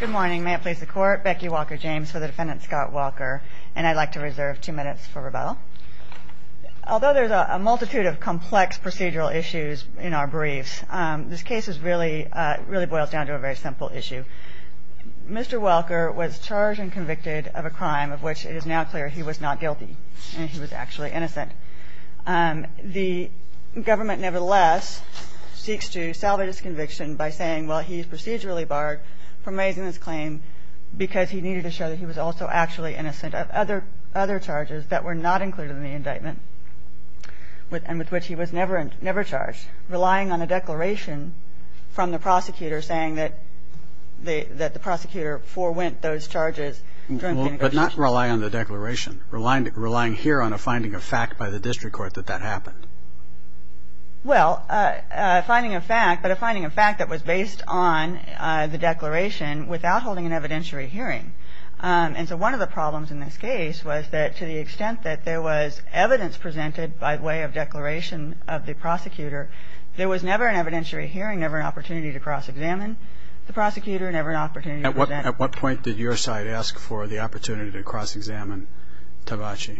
Good morning may it please the court Becky Walker James for the defendant Scott Walker, and I'd like to reserve two minutes for rebuttal Although there's a multitude of complex procedural issues in our briefs this case is really really boils down to a very simple issue Mr.. Walker was charged and convicted of a crime of which it is now clear. He was not guilty and he was actually innocent the government nevertheless Seeks to salvage his conviction by saying well He's procedurally barred from raising this claim Because he needed to show that he was also actually innocent of other other charges that were not included in the indictment With and with which he was never and never charged relying on a declaration from the prosecutor saying that They that the prosecutor forwent those charges But not rely on the declaration relying to relying here on a finding of fact by the district court that that happened Well Finding a fact, but a finding of fact that was based on the declaration without holding an evidentiary hearing And so one of the problems in this case was that to the extent that there was evidence Presented by way of declaration of the prosecutor there was never an evidentiary hearing never an opportunity to cross-examine The prosecutor never an opportunity at what at what point did your side ask for the opportunity to cross-examine? Tagaci,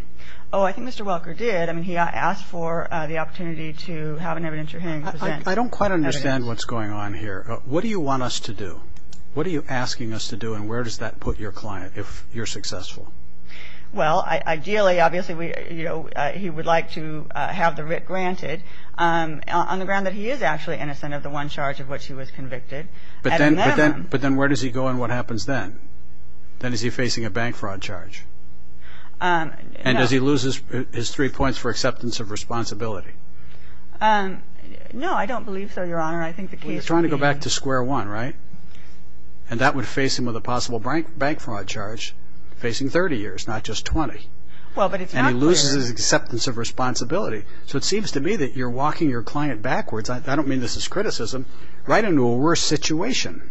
oh, I think mr. Walker did I mean he asked for the opportunity to have an evidentiary I don't quite understand what's going on here. What do you want us to do? What are you asking us to do and where does that put your client if you're successful? Well, ideally obviously we you know, he would like to have the writ granted On the ground that he is actually innocent of the one charge of which he was convicted But then but then but then where does he go and what happens then? Then is he facing a bank fraud charge? And as he loses his three points for acceptance of responsibility No, I don't believe so your honor I think the key is trying to go back to square one, right and That would face him with a possible bank bank fraud charge facing 30 years. Not just 20 Well, but it's an elusive acceptance of responsibility. So it seems to me that you're walking your client backwards I don't mean this is criticism right into a worse situation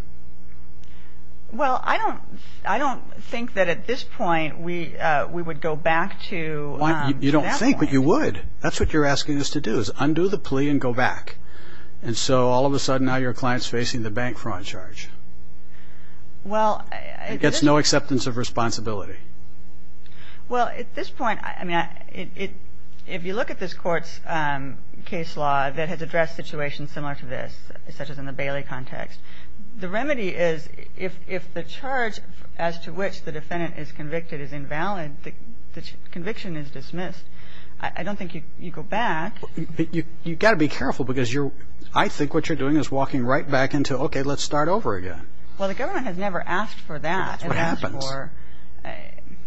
Well, I don't I don't think that at this point we we would go back to You don't think what you would that's what you're asking us to do is undo the plea and go back And so all of a sudden now your clients facing the bank fraud charge Well, it gets no acceptance of responsibility Well at this point, I mean it if you look at this courts Case law that has addressed situations similar to this such as in the Bailey context The remedy is if if the charge as to which the defendant is convicted is invalid the Conviction is dismissed. I don't think you go back You've got to be careful because you're I think what you're doing is walking right back into okay. Let's start over again Well, the government has never asked for that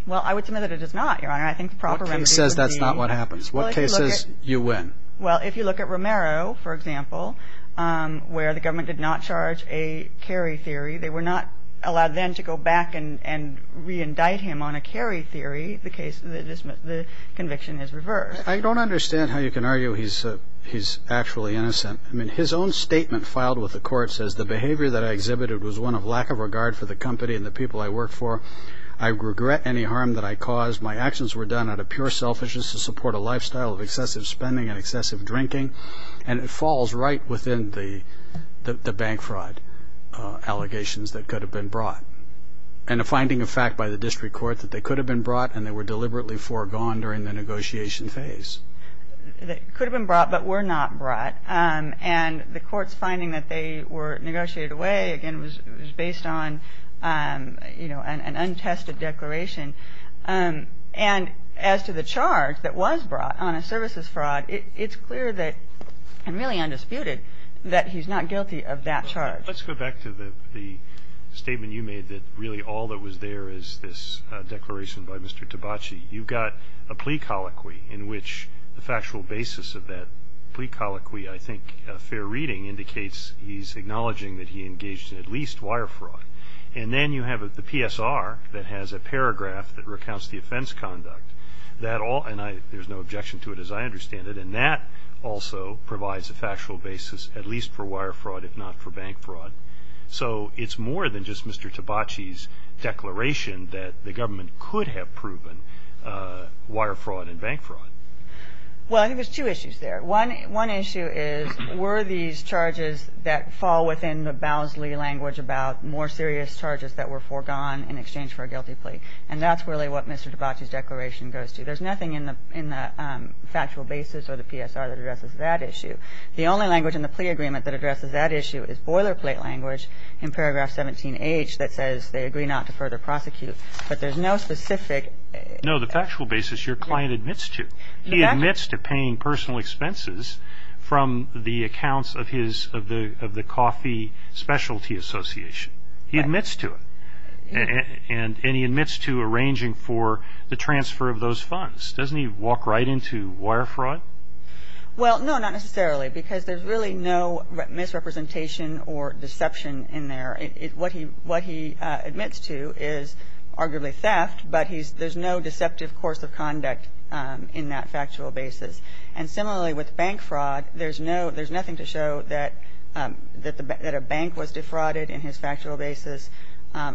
Well, I would say that it does not your honor I think property says that's not what happens what cases you win Well, if you look at Romero, for example where the government did not charge a carry theory they were not allowed then to go back and Reindict him on a carry theory the case that is the conviction is reversed. I don't understand how you can argue He's he's actually innocent I mean his own statement filed with the court says the behavior that I exhibited was one of lack of regard for the company and the people I work for I regret any harm that I caused my actions were done out of pure selfishness to support a lifestyle of excessive spending and excessive drinking and It falls right within the the bank fraud allegations that could have been brought and A finding of fact by the district court that they could have been brought and they were deliberately foregone during the negotiation phase That could have been brought but were not brought and the courts finding that they were negotiated away again was based on You know an untested declaration And as to the charge that was brought on a services fraud It's clear that I'm really undisputed that he's not guilty of that charge. Let's go back to the the Statement you made that really all that was there is this declaration by mr Tabachi you've got a plea colloquy in which the factual basis of that plea colloquy I think a fair reading indicates he's acknowledging that he engaged in at least wire fraud And then you have at the PSR that has a paragraph that recounts the offense conduct That all and I there's no objection to it as I understand it and that Also provides a factual basis at least for wire fraud if not for bank fraud. So it's more than just mr. Tabachi's Declaration that the government could have proven wire fraud and bank fraud Well, I think there's two issues there One issue is were these charges that fall within the Bowsley language about more serious charges that were foregone in exchange for a guilty Plea and that's really what mr. Tabachi's declaration goes to there's nothing in the in the Factual basis or the PSR that addresses that issue The only language in the plea agreement that addresses that issue is boilerplate language in paragraph 17 H that says they agree not to further Prosecute but there's no specific Know the factual basis your client admits to he admits to paying personal expenses From the accounts of his of the of the coffee Specialty Association he admits to it And any admits to arranging for the transfer of those funds doesn't he walk right into wire fraud? Well, no, not necessarily because there's really no Misrepresentation or deception in there it what he what he admits to is arguably theft But he's there's no deceptive course of conduct in that factual basis and similarly with bank fraud There's no there's nothing to show that That the bank was defrauded in his factual basis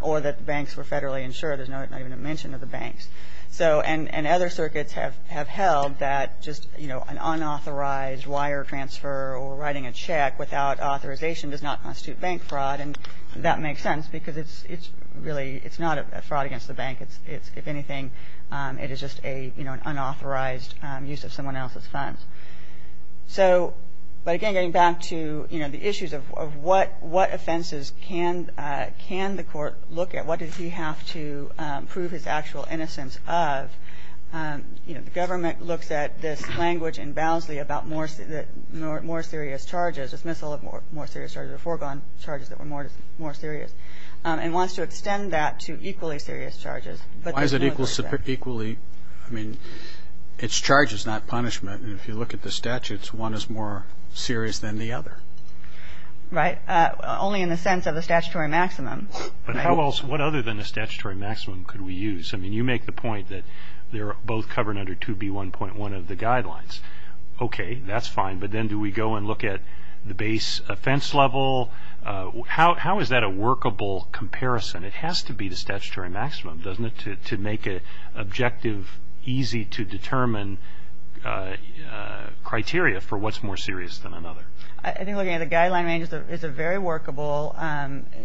or that banks were federally insured There's no even a mention of the banks So and and other circuits have have held that just you know An unauthorized wire transfer or writing a check without authorization does not constitute bank fraud and that makes sense because it's it's really It's not a fraud against the bank. It's it's if anything it is just a you know, an unauthorized use of someone else's funds so but again getting back to you know, the issues of what what offenses can Can the court look at what does he have to prove his actual innocence of? You know the government looks at this language and Bowsley about more More serious charges dismissal of more more serious charges or foregone charges that were more more serious And wants to extend that to equally serious charges, but why is it equal equally? I mean It's charges not punishment. And if you look at the statutes one is more serious than the other Right only in the sense of a statutory maximum But how else what other than the statutory maximum could we use? I mean you make the point that they're both covered under to be one point one of the guidelines Okay, that's fine. But then do we go and look at the base offense level? How is that a workable comparison it has to be the statutory maximum doesn't it to make a objective easy to determine Criteria for what's more serious than another I think the guideline range is a very workable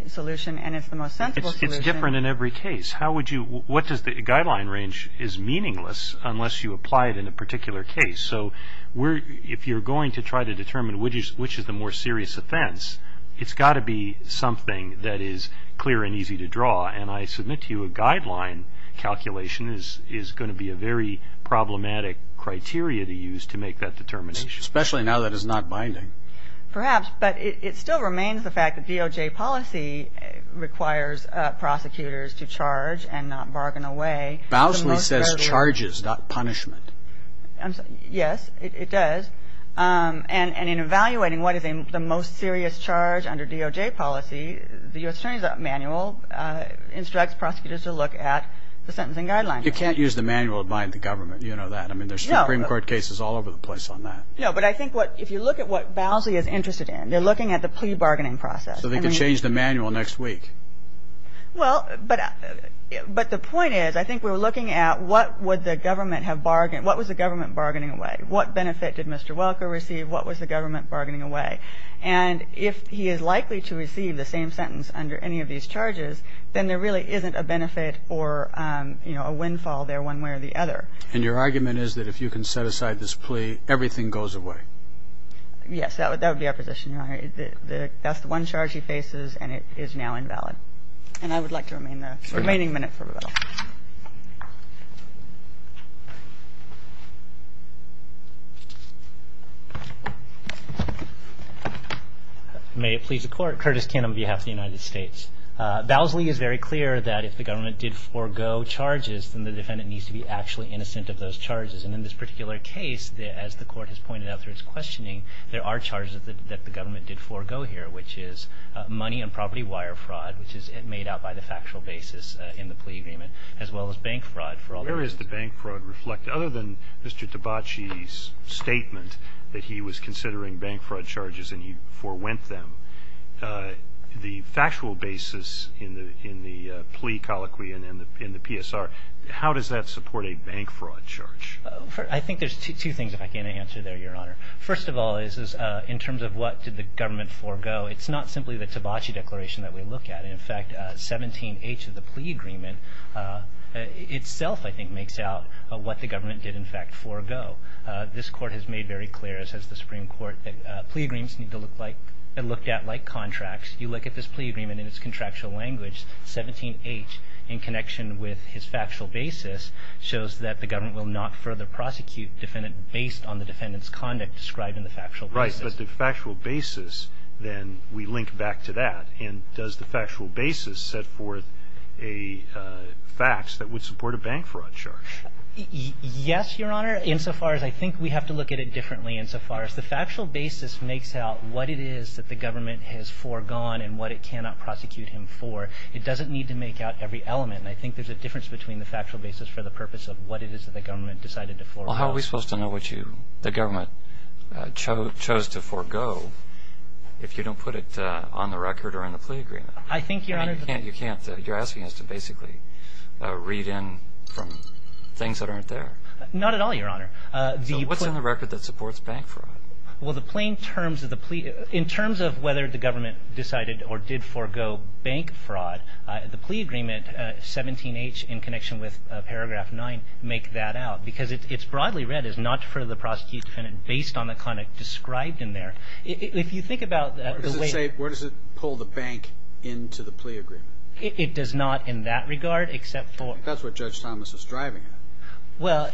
Solution and it's the most sensible. It's different in every case How would you what does the guideline range is meaningless unless you apply it in a particular case? So we're if you're going to try to determine which is which is the more serious offense It's got to be something that is clear and easy to draw and I submit to you a guideline Calculation is is going to be a very problematic Criteria to use to make that determination especially now that is not binding perhaps, but it still remains the fact that DOJ policy requires Prosecutors to charge and not bargain away. Bowsley says charges not punishment Yes, it does And and in evaluating what is in the most serious charge under DOJ policy the US Attorney's manual Instructs prosecutors to look at the sentencing guidelines. You can't use the manual to bind the government. You know that I mean There's Supreme Court cases all over the place on that No But I think what if you look at what Bowsley is interested in they're looking at the plea bargaining process so they can change the manual next week well, but But the point is I think we were looking at what would the government have bargained? What was the government bargaining away? What benefit did mr. Welker receive? What was the government bargaining away? and if he is likely to receive the same sentence under any of these charges, then there really isn't a benefit or You know a windfall there one way or the other and your argument is that if you can set aside this plea everything goes away Yes, that would that would be our position. All right That's the one charge he faces and it is now invalid and I would like to remain the remaining minute for May It please the court Curtis can on behalf of the United States Bowsley is very clear that if the government did forgo Charges and the defendant needs to be actually innocent of those charges and in this particular case As the court has pointed out there. It's questioning. There are charges that the government did forgo here, which is money and property wire fraud Which is it made out by the factual basis in the plea agreement as well as bank fraud for all areas the bank fraud reflect Other than mr. Tabachi's Statement that he was considering bank fraud charges and he forwent them The factual basis in the in the plea colloquy and in the in the PSR How does that support a bank fraud charge? I think there's two things if I can answer there your honor First of all is is in terms of what did the government forgo? It's not simply the Tabachi declaration that we look at in fact 17 H of the plea agreement Itself I think makes out what the government did in fact forgo This court has made very clear as has the Supreme Court Plea agreements need to look like and looked at like contracts you look at this plea agreement in its contractual language 17 H in connection with his factual basis shows that the government will not further prosecute Defendant based on the defendants conduct described in the factual right but the factual basis then we link back to that and does the factual basis set forth a Facts that would support a bank fraud charge Yes, your honor insofar as I think we have to look at it differently insofar as the factual basis makes out what it is That the government has foregone and what it cannot prosecute him for it doesn't need to make out every element I think there's a difference between the factual basis for the purpose of what it is that the government decided to for how are we supposed To know what you the government chose chose to forego If you don't put it on the record or in the plea agreement I think your honor you can't you can't you're asking us to basically Read in from things that aren't there not at all your honor the what's on the record that supports bank fraud Well the plain terms of the plea in terms of whether the government decided or did forego bank fraud the plea agreement 17 H in connection with paragraph 9 make that out because it's broadly read is not for the prosecute defendant based on the conduct Described in there if you think about the way where does it pull the bank into the plea agreement? It does not in that regard except for that's what judge Thomas is driving it well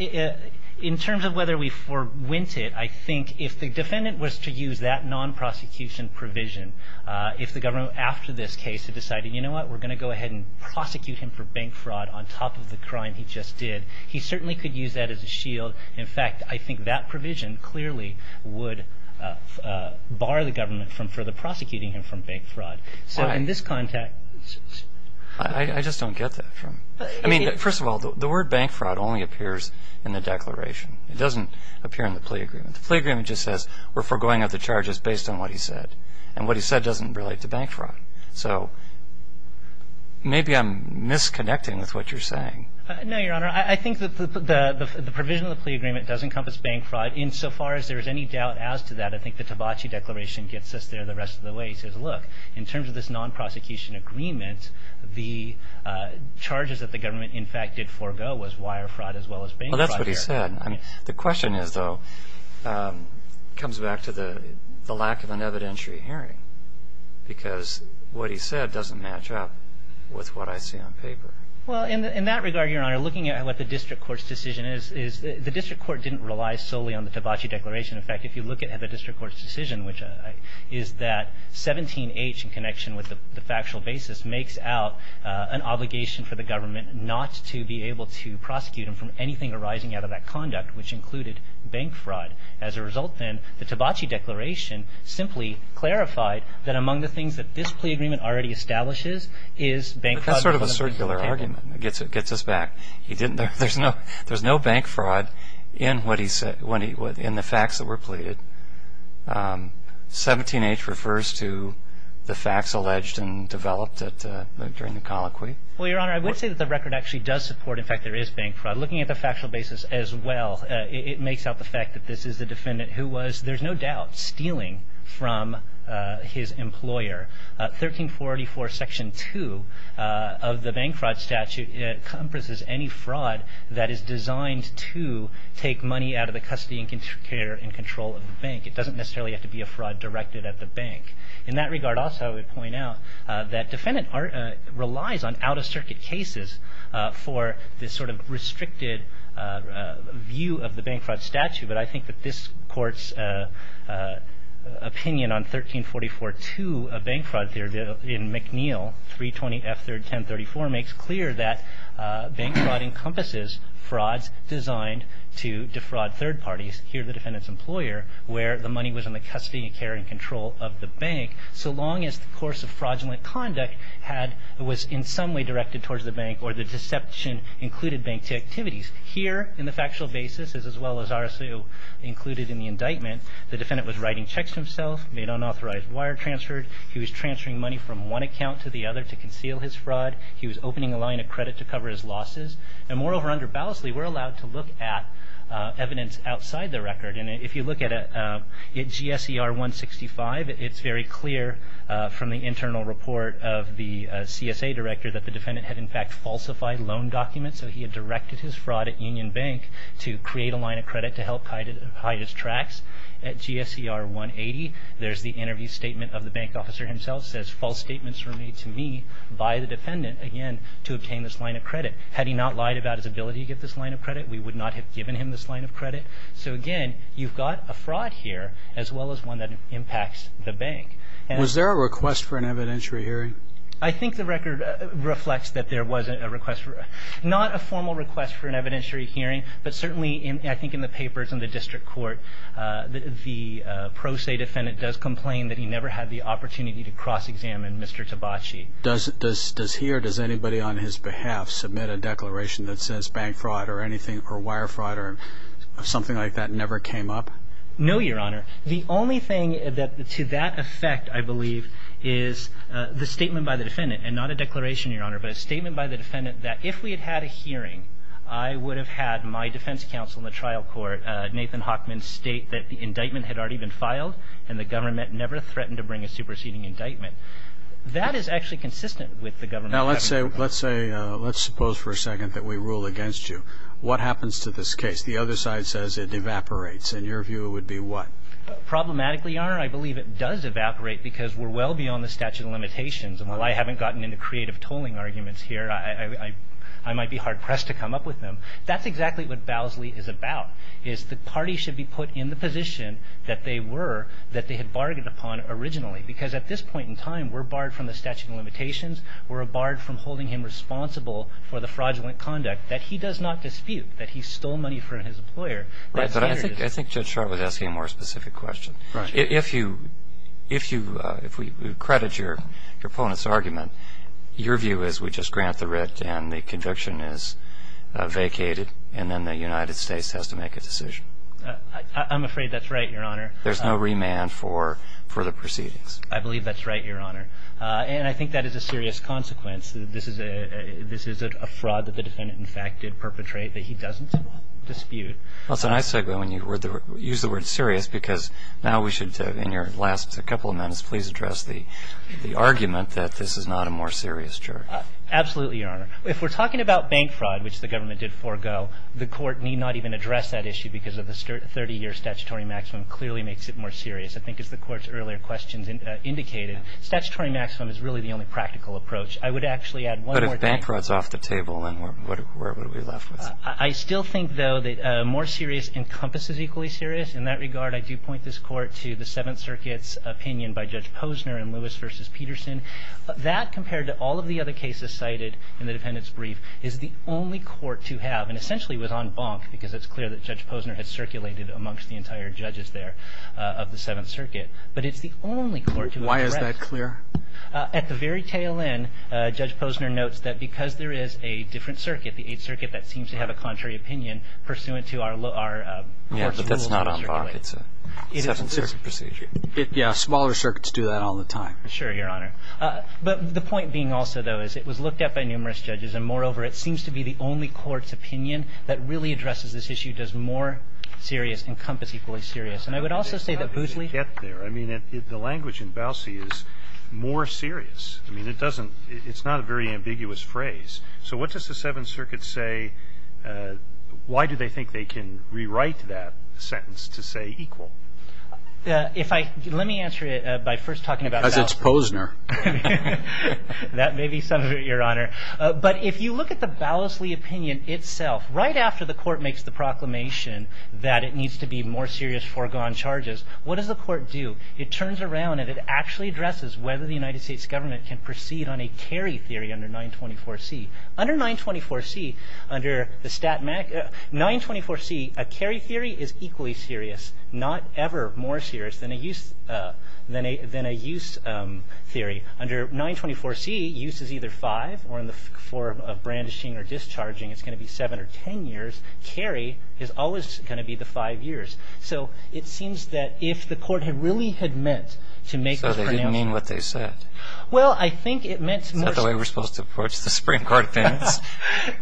In terms of whether we for went it. I think if the defendant was to use that non-prosecution Provision if the government after this case had decided you know what we're going to go ahead and prosecute him for bank fraud on top Of the crime he just did he certainly could use that as a shield in fact I think that provision clearly would Bar the government from further prosecuting him from bank fraud so in this contact I Just don't get that from I mean first of all the word bank fraud only appears in the declaration It doesn't appear in the plea agreement the plea agreement Just says we're foregoing of the charges based on what he said and what he said doesn't relate to bank fraud so Maybe I'm Disconnecting with what you're saying no your honor I think that the the provision of the plea agreement does encompass bank fraud in so far as there is any doubt as to that I think the tabachi declaration gets us there the rest of the way says look in terms of this non-prosecution agreement the Charges that the government in fact did forego was wire fraud as well as being well. That's what he said I mean the question is though Comes back to the the lack of an evidentiary hearing Because what he said doesn't match up with what I see on paper Well in that regard your honor looking at what the district courts decision is is the district court didn't rely solely on the tabachi declaration in fact if you look at how the district courts decision which I is that 17-h in connection with the factual basis makes out an obligation for the government not to be able to Prosecute him from anything arising out of that conduct which included bank fraud as a result then the tabachi declaration Simply clarified that among the things that this plea agreement already establishes is Bank fraud sort of a circular argument it gets it gets us back He didn't there's no there's no bank fraud in what he said when he would in the facts that were pleaded 17-h refers to the facts alleged and developed at during the colloquy well your honor I would say that the record actually does support in fact there is bank fraud looking at the factual basis as well It makes out the fact that this is the defendant who was there's no doubt stealing from his employer 1344 section 2 of the bank fraud statute It encompasses any fraud that is designed to take money out of the custody and control of the bank It doesn't necessarily have to be a fraud directed at the bank in that regard also I would point out that defendant art relies on out-of-circuit cases for this sort of restricted View of the bank fraud statute, but I think that this court's Opinion on 1344 to a bank fraud theory in McNeil 320 f 3rd 1034 makes clear that bank fraud encompasses Frauds designed to defraud third parties here the defendants employer Where the money was in the custody and care and control of the bank so long as the course of fraudulent? Conduct had was in some way directed towards the bank or the deception Included bank to activities here in the factual basis as well as RSO Included in the indictment the defendant was writing checks himself made unauthorized wire transferred He was transferring money from one account to the other to conceal his fraud He was opening a line of credit to cover his losses and moreover under ballast Lee. We're allowed to look at Evidence outside the record and if you look at it it GSE are 165 It's very clear from the internal report of the CSA director that the defendant had in fact falsified loan documents So he had directed his fraud at Union Bank to create a line of credit to help hide it hide his tracks at GSE R 180 there's the interview statement of the bank officer himself says false statements were made to me by the defendant again to obtain this line Of credit had he not lied about his ability to get this line of credit We would not have given him this line of credit So again, you've got a fraud here as well as one that impacts the bank And was there a request for an evidentiary hearing I think the record reflects that there wasn't a request for Not a formal request for an evidentiary hearing, but certainly in I think in the papers in the district court The pro se defendant does complain that he never had the opportunity to cross-examine. Mr. Tabaci does this does here does anybody on his behalf submit a declaration that says bank fraud or anything or wire fraud or Something like that never came up. No, your honor. The only thing that to that effect I believe is The statement by the defendant and not a declaration your honor But a statement by the defendant that if we had had a hearing I would have had my defense counsel in the trial court Nathan Hockman state that the indictment had already been filed and the government never threatened to bring a superseding indictment That is actually consistent with the government. Let's say let's say let's suppose for a second that we rule against you What happens to this case the other side says it evaporates in your view it would be what? Problematically your honor I believe it does evaporate because we're well beyond the statute of limitations and while I haven't gotten into creative tolling arguments here I I might be hard-pressed to come up with them That's exactly what Bowsley is about is the party should be put in the position That they were that they had bargained upon originally because at this point in time We're barred from the statute of limitations We're a barred from holding him responsible for the fraudulent conduct that he does not dispute that he stole money from his employer Right, but I think I think judge Charlotte asking a more specific question Right if you if you if we credit your opponents argument your view is we just grant the writ and the conviction is Vacated and then the United States has to make a decision I'm afraid that's right your honor. There's no remand for for the proceedings. I believe that's right your honor And I think that is a serious consequence This is a this is a fraud that the defendant in fact did perpetrate that he doesn't dispute Well, it's a nice segue when you were there use the word serious because now we should in your last a couple of minutes Please address the the argument that this is not a more serious juror Absolutely your honor if we're talking about bank fraud Which the government did forego the court need not even address that issue because of the 30-year statutory maximum clearly makes it more serious I think it's the court's earlier questions and indicated statutory maximum is really the only practical approach I would actually add what if bank frauds off the table, and what would we left with? I still think though that more serious encompasses equally serious in that regard I do point this court to the Seventh Circuit's opinion by judge Posner and Lewis versus Peterson that compared to all of the other cases cited in the defendants brief is the Only court to have and essentially was on bonk because it's clear that judge Posner had circulated amongst the entire judges there Of the Seventh Circuit, but it's the only court. Why is that clear at the very tail end? Judge Posner notes that because there is a different circuit the Eighth Circuit that seems to have a contrary opinion pursuant to our Yeah smaller circuits do that all the time sure your honor But the point being also though is it was looked at by numerous judges and moreover It seems to be the only courts opinion that really addresses this issue does more Serious encompass equally serious, and I would also say that Boosley get there. I mean if the language in Bowsley is more serious I mean, it doesn't it's not a very ambiguous phrase, so what does the Seventh Circuit say? Why do they think they can rewrite that sentence to say equal? Yeah, if I let me answer it by first talking about it's Posner That may be some of it your honor But if you look at the Bowsley opinion itself right after the court makes the proclamation That it needs to be more serious foregone charges What does the court do it turns around and it actually? Addresses whether the United States government can proceed on a carry theory under 924 C under 924 C under the stat 924 C a carry theory is equally serious not ever more serious than a use than a than a use Theory under 924 C uses either 5 or in the form of brandishing or discharging It's going to be 7 or 10 years carry is always going to be the 5 years So it seems that if the court had really had meant to make so they didn't mean what they said Well, I think it meant some other way. We're supposed to approach the Supreme Court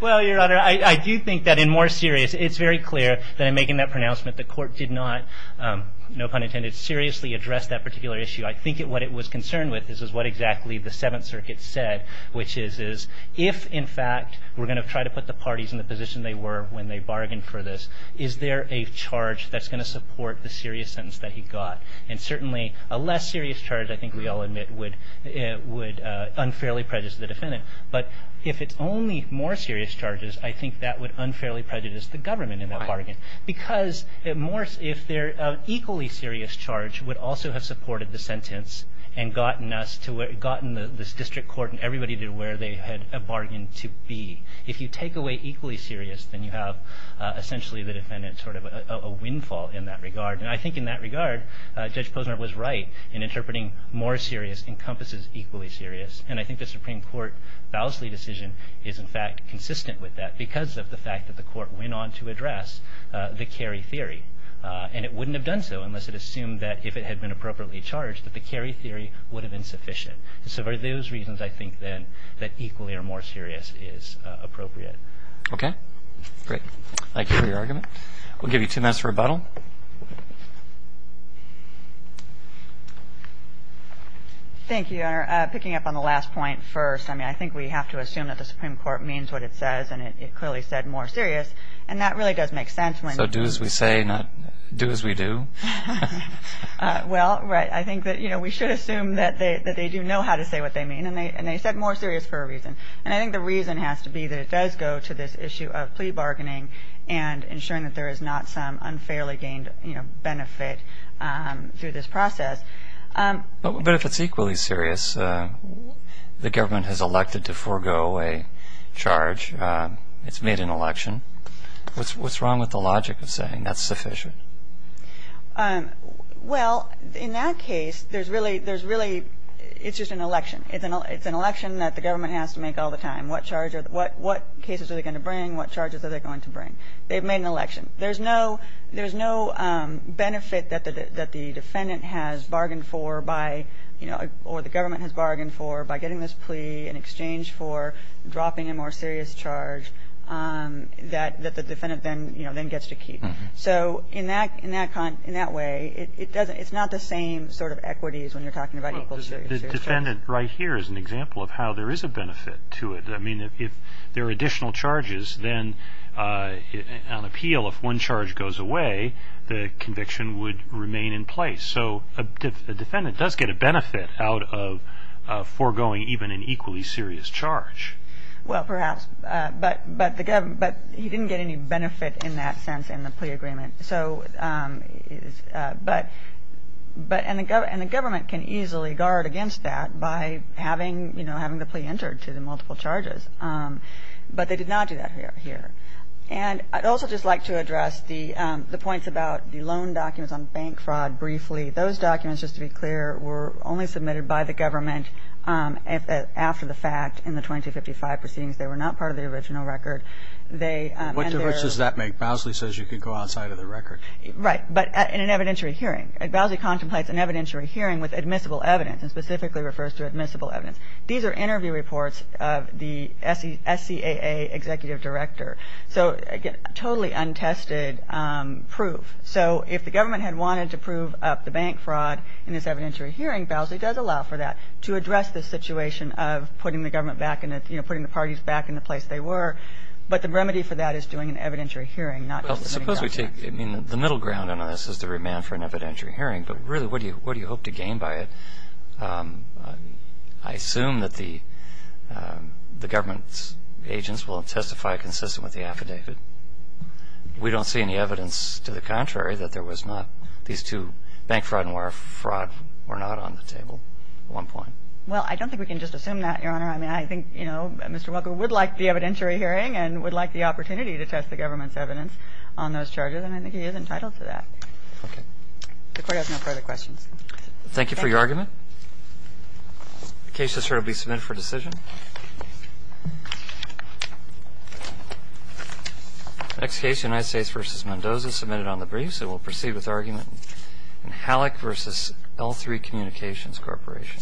Well your honor. I do think that in more serious. It's very clear that I'm making that pronouncement the court did not No pun intended seriously address that particular issue I think it what it was concerned with this is what exactly the Seventh Circuit said which is is if in fact We're going to try to put the parties in the position They were when they bargained for this is there a charge that's going to support the serious sentence that he got and certainly a less serious Charge, I think we all admit would it would unfairly prejudice the defendant But if it's only more serious charges I think that would unfairly prejudice the government in the bargain because it mores if they're equally serious charge would also have supported the sentence and Gotten us to it gotten this district court and everybody did where they had a bargain to be if you take away equally serious Then you have essentially the defendant sort of a windfall in that regard and I think in that regard Judge Posner was right in interpreting more serious encompasses equally serious And I think the Supreme Court Foulsley decision is in fact consistent with that because of the fact that the court went on to address the carry theory And it wouldn't have done so unless it assumed that if it had been appropriately charged that the carry theory would have been sufficient So for those reasons, I think then that equally or more serious is appropriate. Okay, great Thank you for your argument. We'll give you two minutes for a bottle Thank You are picking up on the last point first I mean I think we have to assume that the Supreme Court means what it says and it clearly said more serious and that really does Make sense when so do as we say not do as we do Well, right I think that you know We should assume that they that they do know how to say what they mean and they and they said more serious for a reason and I think the reason has to be that it does go to this issue of plea bargaining and Ensuring that there is not some unfairly gained, you know benefit through this process But if it's equally serious The government has elected to forego a charge. It's made an election What's wrong with the logic of saying that's sufficient? Well in that case there's really there's really It's just an election. It's an it's an election that the government has to make all the time What what cases are they going to bring what charges are they going to bring they've made an election there's no there's no Benefit that the defendant has bargained for by you know Or the government has bargained for by getting this plea in exchange for dropping a more serious charge That that the defendant then, you know then gets to keep so in that in that con in that way It doesn't it's not the same sort of equities when you're talking about Defendant right here is an example of how there is a benefit to it. I mean if there are additional charges then an appeal if one charge goes away the conviction would remain in place so a Defendant does get a benefit out of foregoing even an equally serious charge Well, perhaps but but the government but you didn't get any benefit in that sense in the plea agreement. So But But and the government and the government can easily guard against that by having you know, having the plea entered to the multiple charges But they did not do that here here And I'd also just like to address the the points about the loan documents on bank fraud Briefly those documents just to be clear were only submitted by the government After the fact in the 2055 proceedings, they were not part of the original record They what difference does that make Bowsley says you could go outside of the record, right? But in an evidentiary hearing at Bowsley contemplates an evidentiary hearing with admissible evidence and specifically refers to admissible evidence These are interview reports of the SC SCAA executive director. So I get totally untested Proof so if the government had wanted to prove up the bank fraud in this evidentiary hearing Bowsley does allow for that to address this Situation of putting the government back in it, you know putting the parties back in the place They were but the remedy for that is doing an evidentiary hearing not I mean the middle ground and this is the remand for an evidentiary hearing but really what do you what do you hope to gain by? it I assume that the The government's agents will testify consistent with the affidavit We don't see any evidence to the contrary that there was not these two bank fraud and wire fraud were not on the table At one point. Well, I don't think we can just assume that your honor I mean, I think you know, mr Welcome would like the evidentiary hearing and would like the opportunity to test the government's evidence on those charges And I think he is entitled to that The court has no further questions. Thank you for your argument Case has heard will be submitted for decision Next case United States versus Mendoza submitted on the briefs it will proceed with argument and Halleck versus l3 communications corporation I